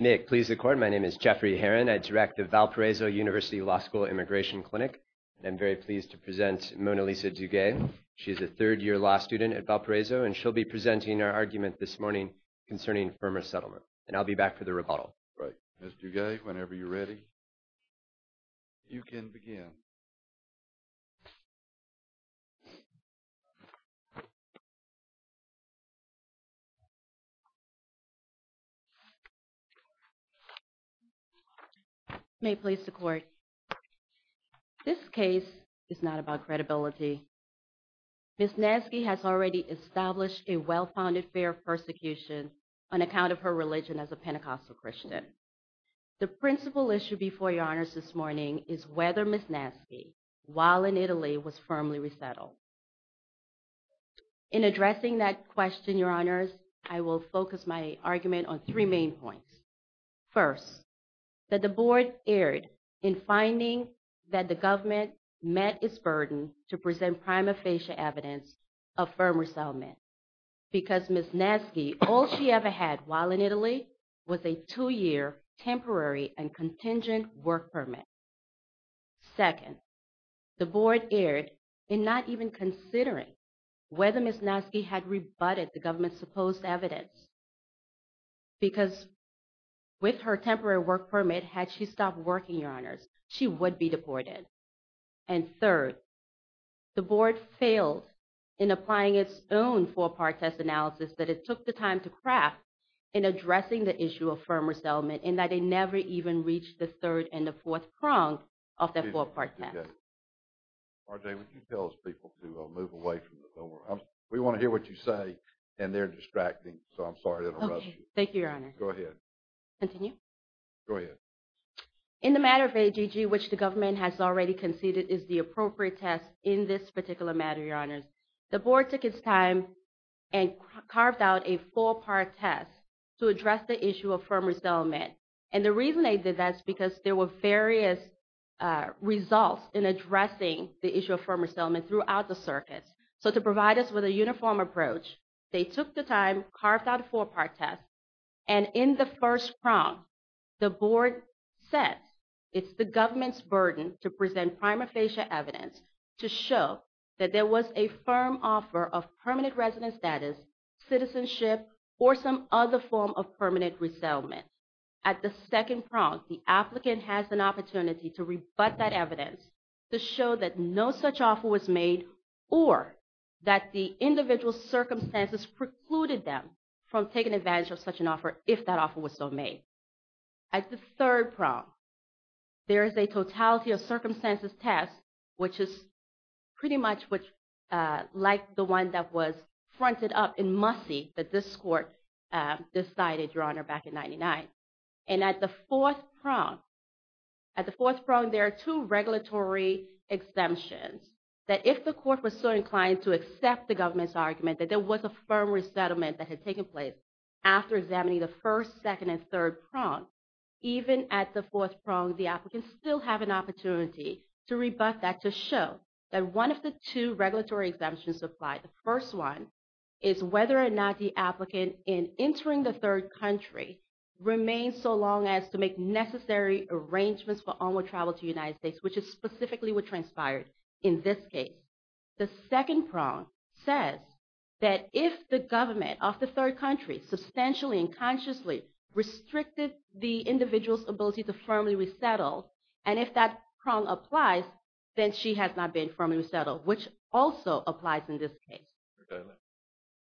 Nick, please record. My name is Jeffrey Heron. I direct the Valparaiso University Law School Immigration Clinic. And I'm very pleased to present Mona Lisa Duguay. She's a third year law student at Valparaiso, and she'll be presenting our argument this morning concerning firmer settlement. And I'll be back for the rebuttal. Right. Ms. Duguay, whenever you're ready, you can begin. May it please the court. This case is not about credibility. Ms. Naizghi has already established a well-founded fear of persecution on account of her religion as a Pentecostal Christian. The principal issue before your honors this morning is whether Ms. Naizghi, while in Italy, was firmly resettled. In addressing that question, your honors, I will focus my argument on three main points. First, that the board erred in finding that the government met its burden to present prima facie evidence of firm resettlement. Because Ms. Naizghi, all she ever had while in Italy was a two-year temporary and contingent work permit. Second, the board erred in not even considering whether Ms. Naizghi had rebutted the government's supposed evidence. Because with her temporary work permit, had she stopped working, your honors, she would be deported. And third, the board failed in applying its own four-part test analysis that it took the time to craft in addressing the issue of firm resettlement. And that it never even reached the third and the fourth prong of that four-part test. R.J., would you tell those people to move away from the floor? We want to hear what you say, and they're distracting, so I'm sorry to interrupt you. Okay. Thank you, your honors. Go ahead. Continue. Go ahead. In the matter of AGG, which the government has already conceded is the appropriate test in this particular matter, your honors, the board took its time and carved out a four-part test to address the issue of firm resettlement. And the reason they did that is because there were various results in addressing the issue of firm resettlement throughout the circuits. So to provide us with a uniform approach, they took the time, carved out a four-part test, and in the first prong, the board said it's the government's burden to present prima facie evidence to show that there was a firm offer of permanent resident status, citizenship, or some other form of permanent resettlement. At the second prong, the applicant has an opportunity to rebut that evidence to show that no such offer was made or that the individual's circumstances precluded them from taking advantage of such an offer if that offer was so made. At the third prong, there is a totality of circumstances test, which is pretty much like the one that was fronted up in Mussie that this court decided, your honor, back in 99. And at the fourth prong, at the fourth prong, there are two regulatory exemptions that if the court was so inclined to accept the government's argument that there was a firm resettlement that had taken place after examining the first, second, and third prongs, even at the fourth prong, the applicants still have an opportunity to rebut that to show that one of the two regulatory exemptions applied. The first one is whether or not the applicant, in entering the third country, remains so long as to make necessary arrangements for onward travel to the United States, which is specifically what transpired in this case. The second prong says that if the government of the third country substantially and consciously restricted the individual's ability to firmly resettle, and if that prong applies, then she has not been firmly resettled, which also applies in this case. Okay.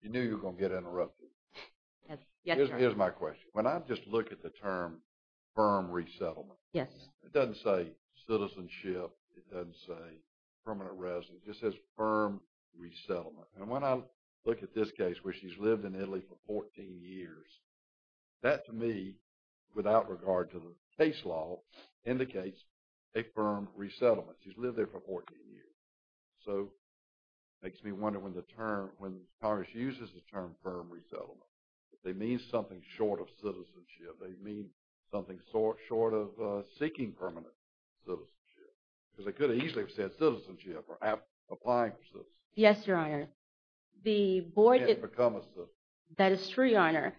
You knew you were going to get interrupted. Here's my question. When I just look at the term firm resettlement, it doesn't say citizenship. It doesn't say permanent residence. It just says firm resettlement. And when I look at this case where she's lived in Italy for 14 years, that to me, without regard to the case law, indicates a firm resettlement. She's lived there for 14 years. So, it makes me wonder when Congress uses the term firm resettlement. They mean something short of citizenship. They mean something short of seeking permanent citizenship. Because they could have easily said citizenship or applying for citizenship. Yes, Your Honor. The board – that is true, Your Honor.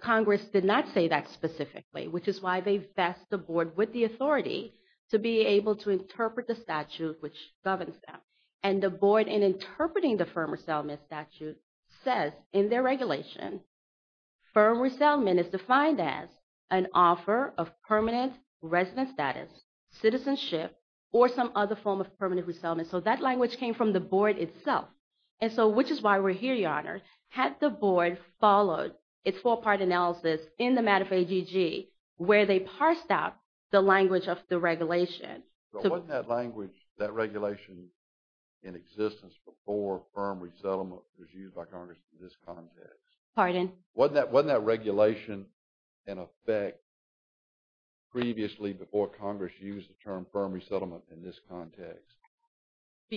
Congress did not say that specifically, which is why they vest the board with the authority to be able to interpret the statute which governs them. And the board, in interpreting the firm resettlement statute, says in their regulation, firm resettlement is defined as an offer of permanent residence status, citizenship, or some other form of permanent resettlement. So, that language came from the board itself. And so, which is why we're here, Your Honor. Had the board followed its four-part analysis in the matter of AGG, where they parsed out the language of the regulation. But wasn't that language, that regulation, in existence before firm resettlement was used by Congress in this context? Pardon? Wasn't that regulation in effect previously before Congress used the term firm resettlement in this context?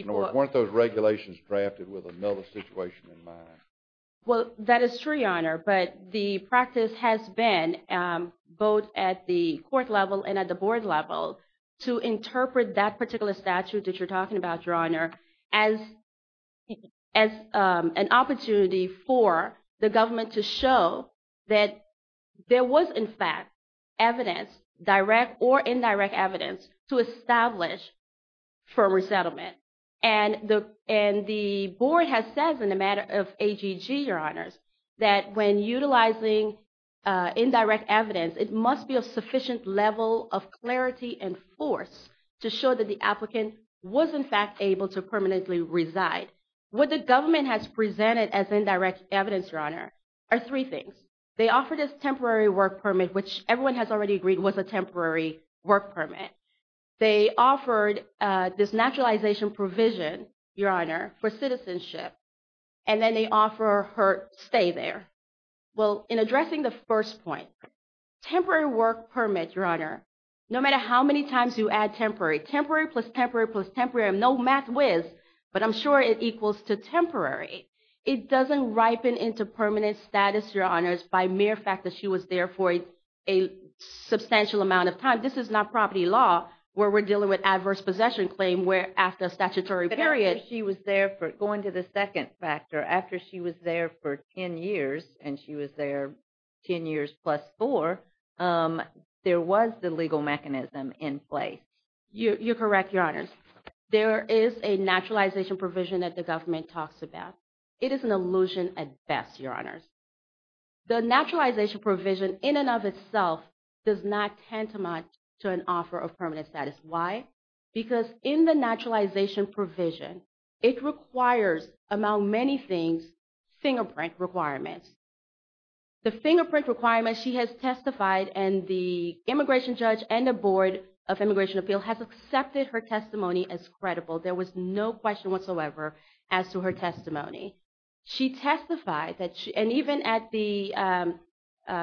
Weren't those regulations drafted with another situation in mind? Well, that is true, Your Honor. But the practice has been both at the court level and at the board level to interpret that particular statute that you're talking about, Your Honor, as an opportunity for the government to show that there was, in fact, evidence, direct or indirect evidence, to establish firm resettlement. And the board has said in the matter of AGG, Your Honors, that when utilizing indirect evidence, it must be a sufficient level of clarity and force to show that the applicant was, in fact, able to permanently reside. What the government has presented as indirect evidence, Your Honor, are three things. They offer this temporary work permit, which everyone has already agreed was a temporary work permit. They offered this naturalization provision, Your Honor, for citizenship. And then they offer her stay there. Well, in addressing the first point, temporary work permit, Your Honor, no matter how many times you add temporary, temporary plus temporary plus temporary, I'm no math whiz, but I'm sure it equals to temporary. It doesn't ripen into permanent status, Your Honors, by mere fact that she was there for a substantial amount of time. This is not property law where we're dealing with adverse possession claim where after a statutory period. But after she was there for, going to the second factor, after she was there for 10 years, and she was there 10 years plus four, there was the legal mechanism in place. You're correct, Your Honors. There is a naturalization provision that the government talks about. It is an illusion at best, Your Honors. The naturalization provision in and of itself does not tantamount to an offer of permanent status. Why? Because in the naturalization provision, it requires, among many things, fingerprint requirements. The fingerprint requirements she has testified, and the immigration judge and the Board of Immigration Appeal has accepted her testimony as credible. There was no question whatsoever as to her testimony. She testified, and even at the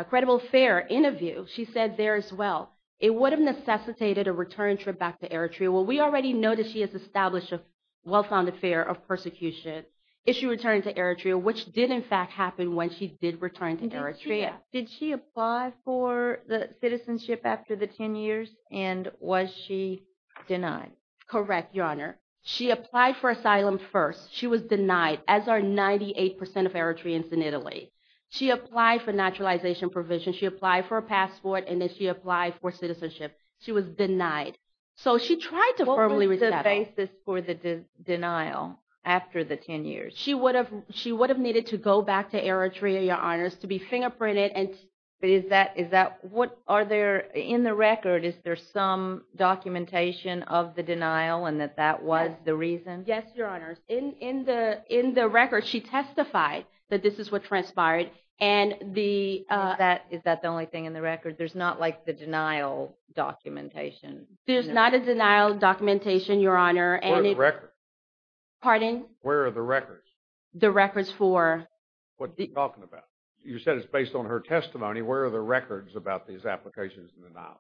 credible fair interview, she said there as well, it would have necessitated a return trip back to Eritrea. Well, we already know that she has established a well-founded fear of persecution if she returned to Eritrea, which did in fact happen when she did return to Eritrea. Did she apply for the citizenship after the 10 years, and was she denied? Correct, Your Honor. She applied for asylum first. She was denied, as are 98% of Eritreans in Italy. She applied for naturalization provision. She applied for a passport, and then she applied for citizenship. She was denied. She was denied to formally resettle. What was the basis for the denial after the 10 years? She would have needed to go back to Eritrea, Your Honors, to be fingerprinted. Is that – are there – in the record, is there some documentation of the denial and that that was the reason? Yes, Your Honors. In the record, she testified that this is what transpired, and the – Is that the only thing in the record? There's not like the denial documentation? There's not a denial documentation, Your Honor. What are the records? Pardon? Where are the records? The records for – What are you talking about? You said it's based on her testimony. Where are the records about these applications and denials?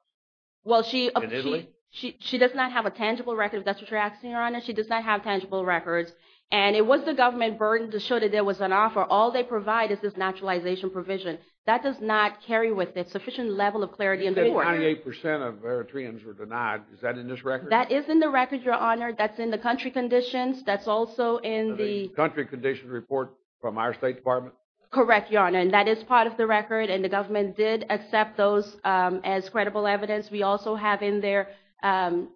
Well, she – In Italy? She does not have a tangible record, if that's what you're asking, Your Honor. She does not have tangible records. And it was the government burden to show that there was an offer. All they provide is this naturalization provision. That does not carry with it sufficient level of clarity in the report. 98% of Eritreans were denied. Is that in this record? That is in the record, Your Honor. That's in the country conditions. That's also in the – The country conditions report from our State Department? Correct, Your Honor. And that is part of the record, and the government did accept those as credible evidence. We also have in there an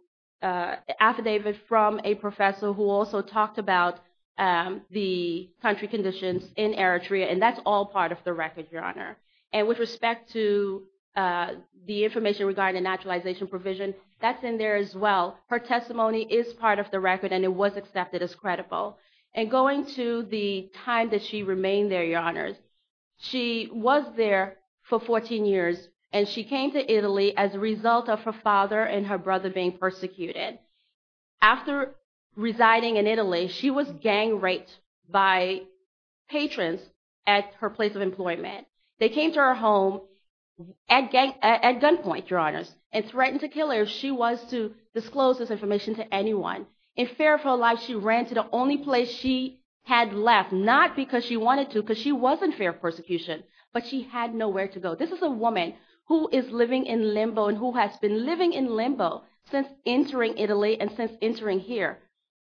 affidavit from a professor who also talked about the country conditions in Eritrea, and that's all part of the record, Your Honor. And with respect to the information regarding the naturalization provision, that's in there as well. Her testimony is part of the record, and it was accepted as credible. And going to the time that she remained there, Your Honor, she was there for 14 years, and she came to Italy as a result of her father and her brother being persecuted. After residing in Italy, she was gang-raped by patrons at her place of employment. They came to her home at gunpoint, Your Honor, and threatened to kill her if she was to disclose this information to anyone. In fear of her life, she ran to the only place she had left, not because she wanted to because she was in fear of persecution, but she had nowhere to go. This is a woman who is living in limbo and who has been living in limbo since entering Italy and since entering here.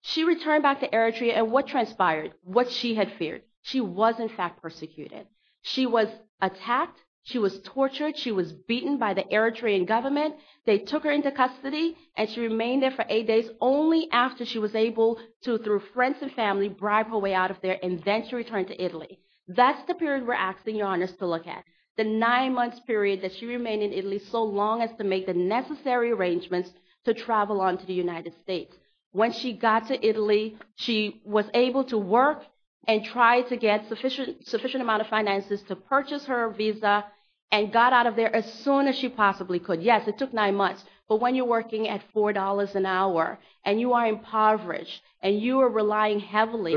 She returned back to Eritrea, and what transpired, what she had feared, she was in fact persecuted. She was attacked. She was tortured. She was beaten by the Eritrean government. They took her into custody, and she remained there for eight days only after she was able to, through friends and family, bribe her way out of there and then she returned to Italy. That's the period we're asking Your Honors to look at, the nine-month period that she remained in Italy so long as to make the necessary arrangements to travel on to the United States. When she got to Italy, she was able to work and try to get a sufficient amount of finances to purchase her visa and got out of there as soon as she possibly could. Yes, it took nine months, but when you're working at $4 an hour and you are impoverished and you are relying heavily…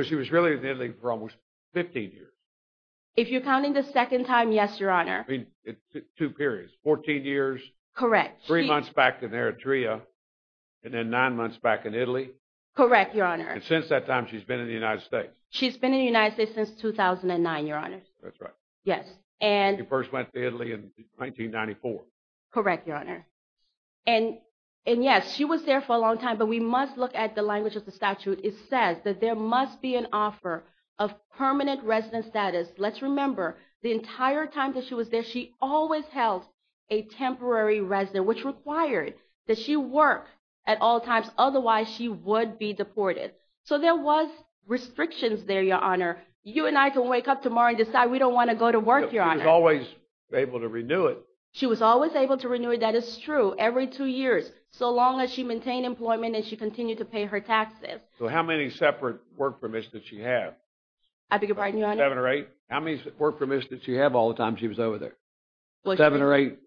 If you're counting the second time, yes, Your Honor. Two periods, 14 years, three months back in Eritrea, and then nine months back in Italy? Correct, Your Honor. And since that time, she's been in the United States? She's been in the United States since 2009, Your Honor. That's right. She first went to Italy in 1994. Correct, Your Honor. And yes, she was there for a long time, but we must look at the language of the statute. It says that there must be an offer of permanent resident status. Let's remember, the entire time that she was there, she always held a temporary resident, which required that she work at all times. Otherwise, she would be deported. So there was restrictions there, Your Honor. You and I can wake up tomorrow and decide we don't want to go to work, Your Honor. She was always able to renew it. She was always able to renew it. That is true, every two years, so long as she maintained employment and she continued to pay her taxes. So how many separate work permits did she have? I beg your pardon, Your Honor? Seven or eight? How many work permits did she have all the time she was over there? Seven or eight?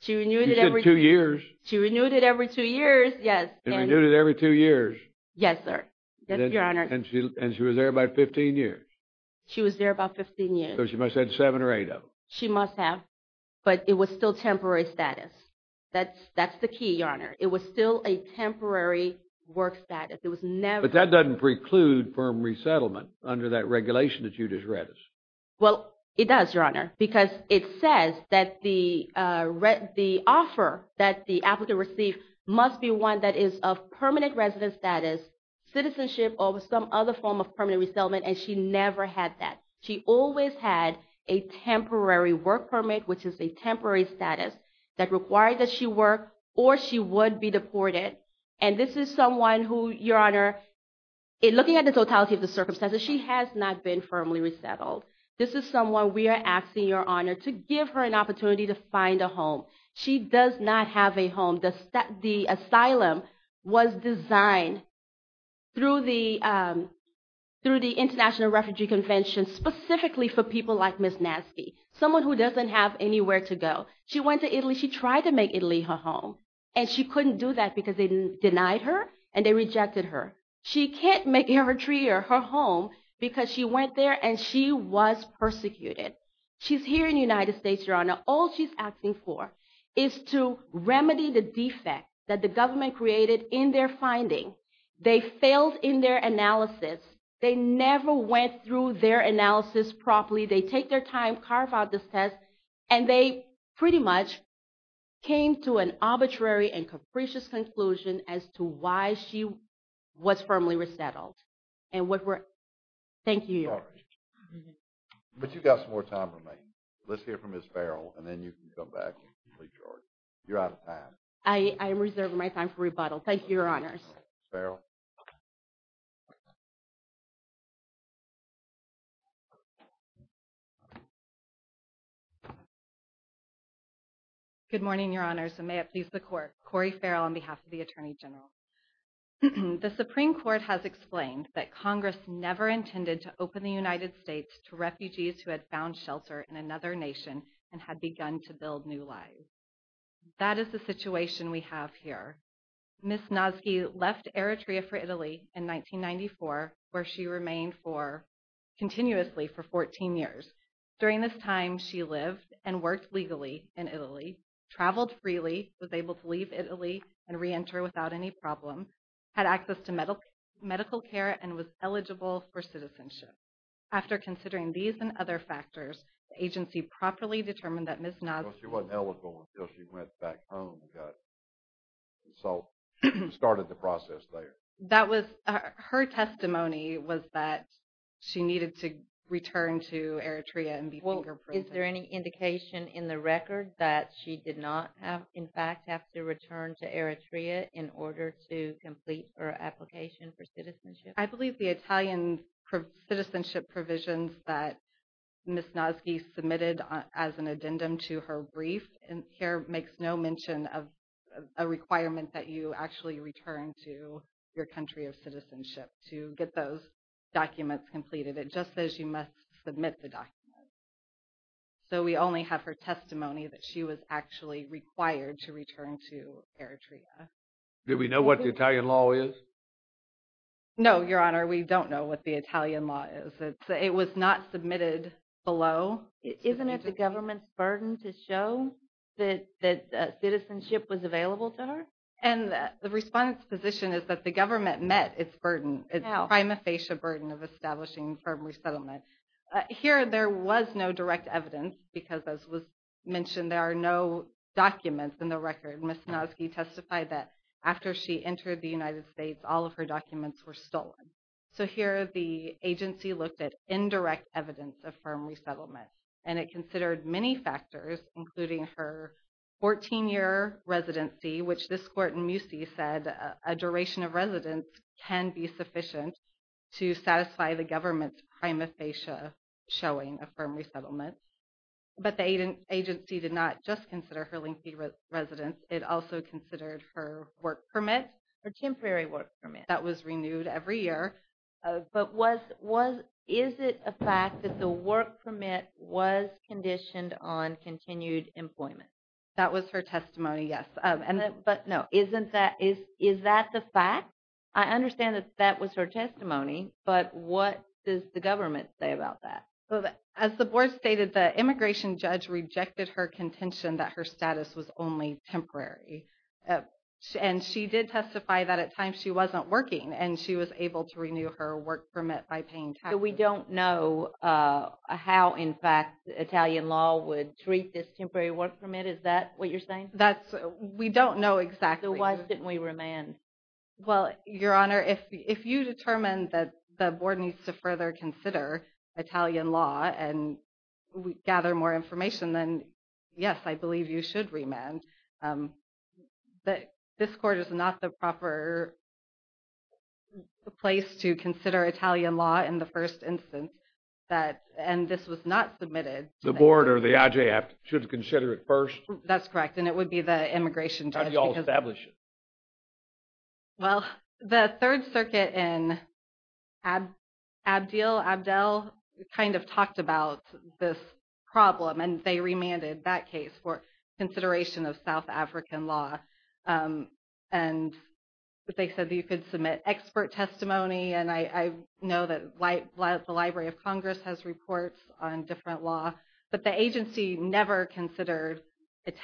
She renewed it every two years. She renewed it every two years, yes. And renewed it every two years? Yes, sir. And she was there about 15 years? She was there about 15 years. And it was still temporary status. That's the key, Your Honor. It was still a temporary work status. But that doesn't preclude firm resettlement under that regulation that you just read us. Well, it does, Your Honor, because it says that the offer that the applicant received must be one that is of permanent resident status, citizenship, or some other form of permanent resettlement, and she never had that. She always had a temporary work permit, which is a temporary status that required that she work or she would be deported. And this is someone who, Your Honor, looking at the totality of the circumstances, she has not been firmly resettled. This is someone we are asking, Your Honor, to give her an opportunity to find a home. She does not have a home. The asylum was designed through the International Refugee Convention specifically for people like Ms. Natsky, someone who doesn't have anywhere to go. She went to Italy. She tried to make Italy her home, and she couldn't do that because they denied her and they rejected her. She can't make it her tree or her home because she went there and she was persecuted. She's here in the United States, Your Honor. All she's asking for is to remedy the defect that the government created in their finding. They failed in their analysis. They never went through their analysis properly. They take their time, carve out this test, and they pretty much came to an arbitrary and capricious conclusion as to why she was firmly resettled. Thank you, Your Honor. I'm sorry. But you've got some more time for me. Let's hear from Ms. Farrell, and then you can come back and complete your argument. You're out of time. I reserve my time for rebuttal. Thank you, Your Honors. Ms. Farrell? Good morning, Your Honors, and may it please the Court. Corey Farrell on behalf of the Attorney General. The Supreme Court has explained that Congress never intended to open the United States to refugees who had found shelter in another nation and had begun to build new lives. That is the situation we have here. Ms. Nosky left Eritrea for Italy in 1994, where she remained continuously for 14 years. During this time, she lived and worked legally in Italy, traveled freely, was able to leave Italy and reenter without any problem, had access to medical care, and was eligible for citizenship. After considering these and other factors, the agency properly determined that Ms. Nosky… She wasn't eligible until she went back home. So, she started the process there. Her testimony was that she needed to return to Eritrea and be finger-printed. Is there any indication in the record that she did not, in fact, have to return to Eritrea in order to complete her application for citizenship? I believe the Italian citizenship provisions that Ms. Nosky submitted as an addendum to her brief here makes no mention of a requirement that you actually return to your country of citizenship to get those documents completed. It just says you must submit the documents. So, we only have her testimony that she was actually required to return to Eritrea. Do we know what the Italian law is? No, Your Honor, we don't know what the Italian law is. It was not submitted below. Isn't it the government's burden to show that citizenship was available to her? And the respondent's position is that the government met its burden, its prima facie burden of establishing firm resettlement. Here, there was no direct evidence because, as was mentioned, there are no documents in the record. Ms. Nosky testified that after she entered the United States, all of her documents were stolen. So, here, the agency looked at indirect evidence of firm resettlement, and it considered many factors, including her 14-year residency, which this court in Musi said a duration of residence can be sufficient to satisfy the government's prima facie showing of firm resettlement. But the agency did not just consider her lengthy residence. It also considered her work permit. Her temporary work permit. That was renewed every year. But was – is it a fact that the work permit was conditioned on continued employment? That was her testimony, yes. But, no, isn't that – is that the fact? I understand that that was her testimony, but what does the government say about that? As the board stated, the immigration judge rejected her contention that her status was only temporary. And she did testify that at times she wasn't working, and she was able to renew her work permit by paying taxes. So, we don't know how, in fact, Italian law would treat this temporary work permit? Is that what you're saying? That's – we don't know exactly. So, why didn't we remand? Well, Your Honor, if you determine that the board needs to further consider Italian law and gather more information, then, yes, I believe you should remand. But this court is not the proper place to consider Italian law in the first instance that – and this was not submitted. The board or the IJF should consider it first? That's correct, and it would be the immigration judge. How do you all establish it? Well, the Third Circuit in Abdeel, Abdel, kind of talked about this problem, and they remanded that case for consideration of South African law. And they said that you could submit expert testimony, and I know that the Library of Congress has reports on different law. But the agency never considered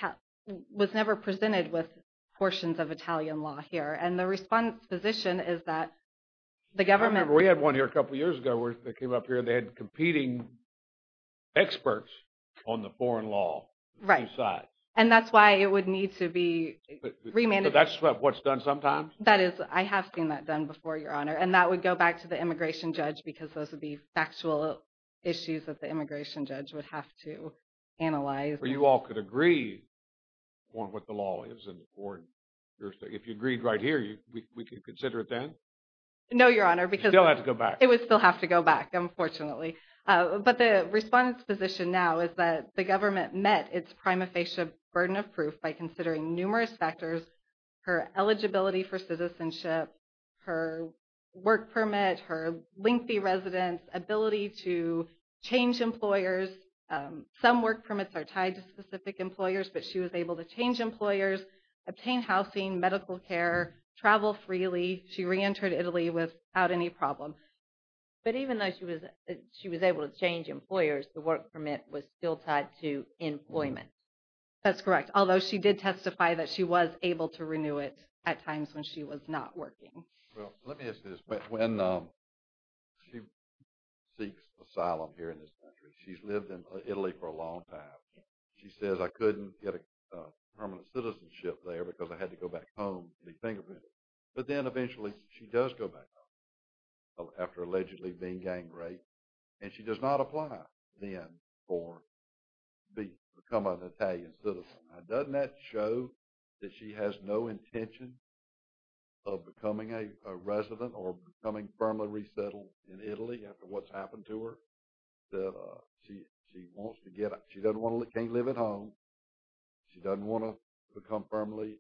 – was never presented with portions of Italian law here. And the response position is that the government – I remember we had one here a couple years ago where they came up here and they had competing experts on the foreign law. Right. And that's why it would need to be remanded. So, that's what's done sometimes? That is – I have seen that done before, Your Honor. And that would go back to the immigration judge because those would be factual issues that the immigration judge would have to analyze. Or you all could agree on what the law is in the court. If you agreed right here, we could consider it then? No, Your Honor, because – You still have to go back. It would still have to go back, unfortunately. But the response position now is that the government met its prima facie burden of proof by considering numerous factors – her eligibility for citizenship, her work permit, her lengthy residence, ability to change employers. Some work permits are tied to specific employers, but she was able to change employers, obtain housing, medical care, travel freely. She reentered Italy without any problem. But even though she was able to change employers, the work permit was still tied to employment. That's correct. Although she did testify that she was able to renew it at times when she was not working. Well, let me ask you this. When she seeks asylum here in this country, she's lived in Italy for a long time. She says, I couldn't get a permanent citizenship there because I had to go back home to be fingerprinted. But then eventually she does go back home after allegedly being gang raped, and she does not apply then for becoming an Italian citizen. Doesn't that show that she has no intention of becoming a resident or becoming firmly resettled in Italy after what's happened to her? She wants to get up. She can't live at home. She doesn't want to become firmly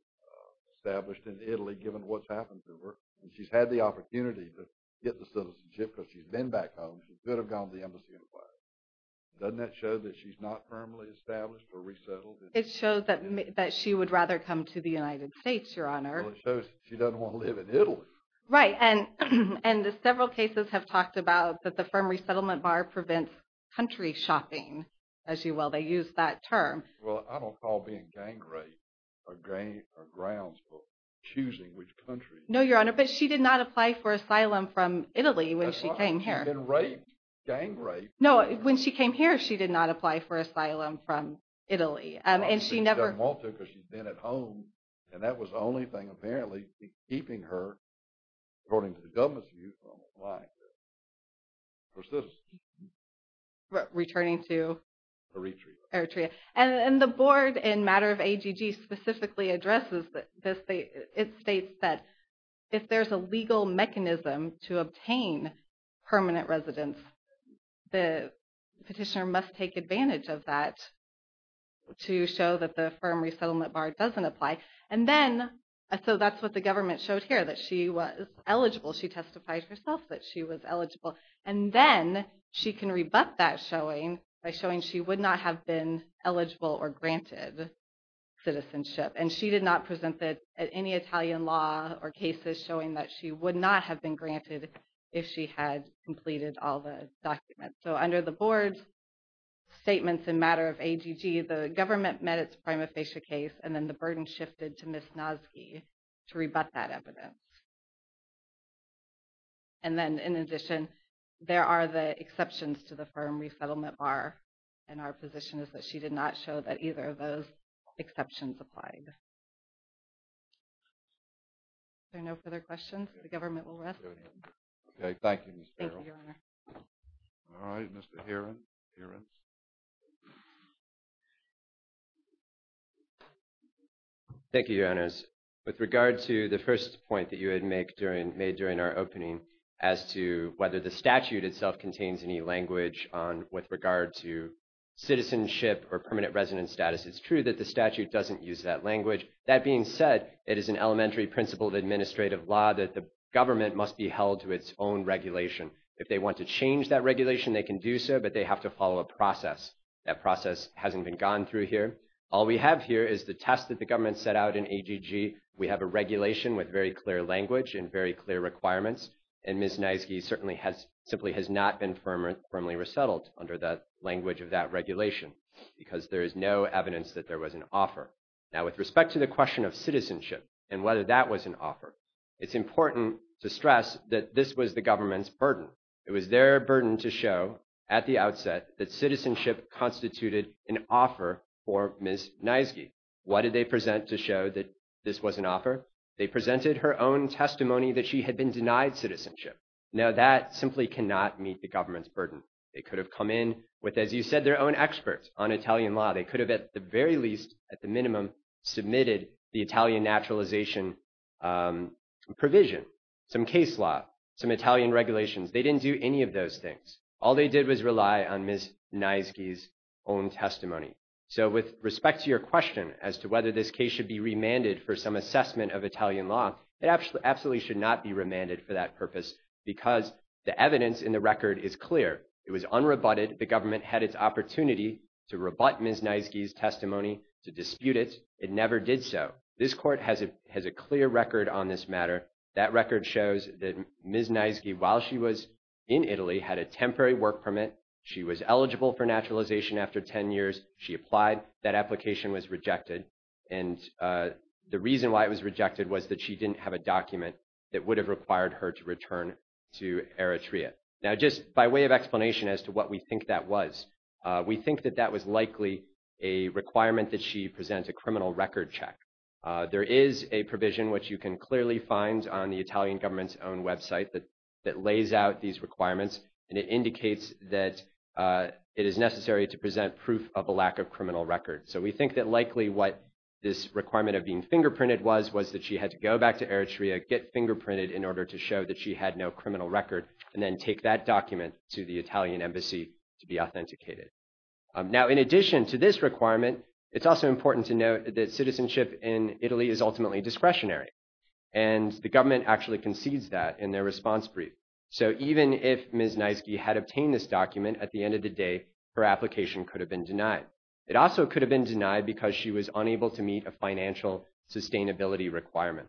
established in Italy given what's happened to her. And she's had the opportunity to get the citizenship because she's been back home. She could have gone to the embassy and applied. Doesn't that show that she's not firmly established or resettled? It shows that she would rather come to the United States, Your Honor. Well, it shows that she doesn't want to live in Italy. Right. And several cases have talked about that the firm resettlement bar prevents country shopping, as you will. They use that term. Well, I don't call being gang raped a grounds for choosing which country. No, Your Honor, but she did not apply for asylum from Italy when she came here. Gang raped? No, when she came here, she did not apply for asylum from Italy. She doesn't want to because she's been at home. And that was the only thing apparently keeping her, according to the government's view, from applying for citizenship. Returning to? Eritrea. Eritrea. And the board in matter of AGG specifically addresses this. It states that if there's a legal mechanism to obtain permanent residence, the petitioner must take advantage of that to show that the firm resettlement bar doesn't apply. And then, so that's what the government showed here, that she was eligible. She testified herself that she was eligible. And then she can rebut that showing by showing she would not have been eligible or granted citizenship. And she did not present that at any Italian law or cases showing that she would not have been granted if she had completed all the documents. So, under the board's statements in matter of AGG, the government met its prima facie case and then the burden shifted to Ms. Nosky to rebut that evidence. And then, in addition, there are the exceptions to the firm resettlement bar. And our position is that she did not show that either of those exceptions applied. Are there no further questions? The government will rest. Okay, thank you, Ms. Carroll. All right, Mr. Herent. Thank you, Your Honors. With regard to the first point that you had made during our opening as to whether the statute itself contains any language with regard to citizenship or permanent residence status, it's true that the statute doesn't use that language. That being said, it is an elementary principle of administrative law that the government must be held to its own regulation. If they want to change that regulation, they can do so, but they have to follow a process. That process hasn't been gone through here. All we have here is the test that the government set out in AGG. We have a regulation with very clear language and very clear requirements. And Ms. Nosky certainly has – simply has not been firmly resettled under the language of that regulation because there is no evidence that there was an offer. Now, with respect to the question of citizenship and whether that was an offer, it's important to stress that this was the government's burden. It was their burden to show at the outset that citizenship constituted an offer for Ms. Nosky. What did they present to show that this was an offer? They presented her own testimony that she had been denied citizenship. Now, that simply cannot meet the government's burden. They could have come in with, as you said, their own experts on Italian law. They could have, at the very least, at the minimum, submitted the Italian naturalization provision, some case law, some Italian regulations. They didn't do any of those things. All they did was rely on Ms. Nosky's own testimony. So, with respect to your question as to whether this case should be remanded for some assessment of Italian law, it absolutely should not be remanded for that purpose because the evidence in the record is clear. It was unrebutted. The government had its opportunity to rebut Ms. Nosky's testimony, to dispute it. It never did so. This court has a clear record on this matter. That record shows that Ms. Nosky, while she was in Italy, had a temporary work permit. She was eligible for naturalization after 10 years. She applied. That application was rejected. And the reason why it was rejected was that she didn't have a document that would have required her to return to Eritrea. Now, just by way of explanation as to what we think that was, we think that that was likely a requirement that she present a criminal record check. There is a provision, which you can clearly find on the Italian government's own website, that lays out these requirements and it indicates that it is necessary to present proof of a lack of criminal record. So, we think that likely what this requirement of being fingerprinted was, was that she had to go back to Eritrea, get fingerprinted in order to show that she had no criminal record, and take that document to the Italian embassy to be authenticated. Now, in addition to this requirement, it's also important to note that citizenship in Italy is ultimately discretionary. And the government actually concedes that in their response brief. So, even if Ms. Nosky had obtained this document, at the end of the day, her application could have been denied. It also could have been denied because she was unable to meet a financial sustainability requirement.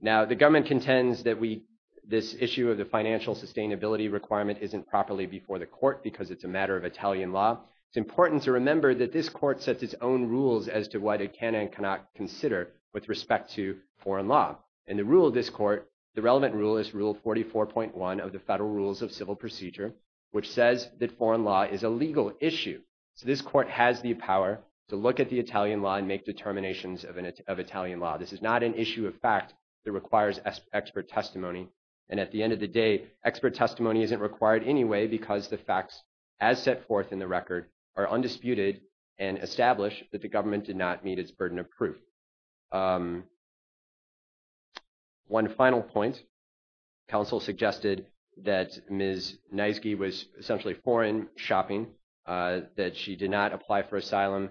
Now, the government contends that we, this issue of the financial sustainability requirement, isn't properly before the court because it's a matter of Italian law. It's important to remember that this court sets its own rules as to what it can and cannot consider with respect to foreign law. And the rule of this court, the relevant rule is Rule 44.1 of the Federal Rules of Civil Procedure, which says that foreign law is a legal issue. So, this court has the power to look at the Italian law and make determinations of Italian law. This is not an issue of fact that requires expert testimony. And at the end of the day, expert testimony isn't required anyway because the facts, as set forth in the record, are undisputed and established that the government did not meet its burden of proof. One final point. Counsel suggested that Ms. Nosky was essentially foreign shopping, that she did not apply for asylum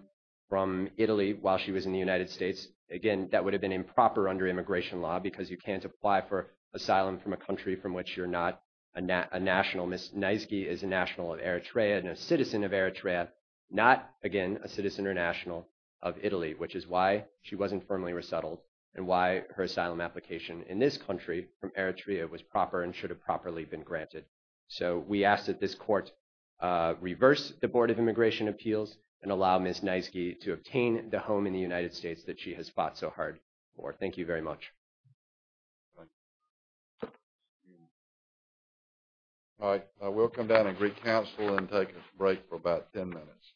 from Italy while she was in the United States. Again, that would have been improper under immigration law because you can't apply for asylum from a country from which you're not a national. Ms. Nosky is a national of Eritrea and a citizen of Eritrea, not, again, a citizen or national of Italy, which is why she wasn't firmly resettled and why her asylum application in this country from Eritrea was proper and should have properly been granted. So, we ask that this court reverse the Board of Immigration Appeals and allow Ms. Nosky to obtain the home in the United States that she has fought so hard for. Thank you very much. All right, we'll come down and recounsel and take a break for about 10 minutes.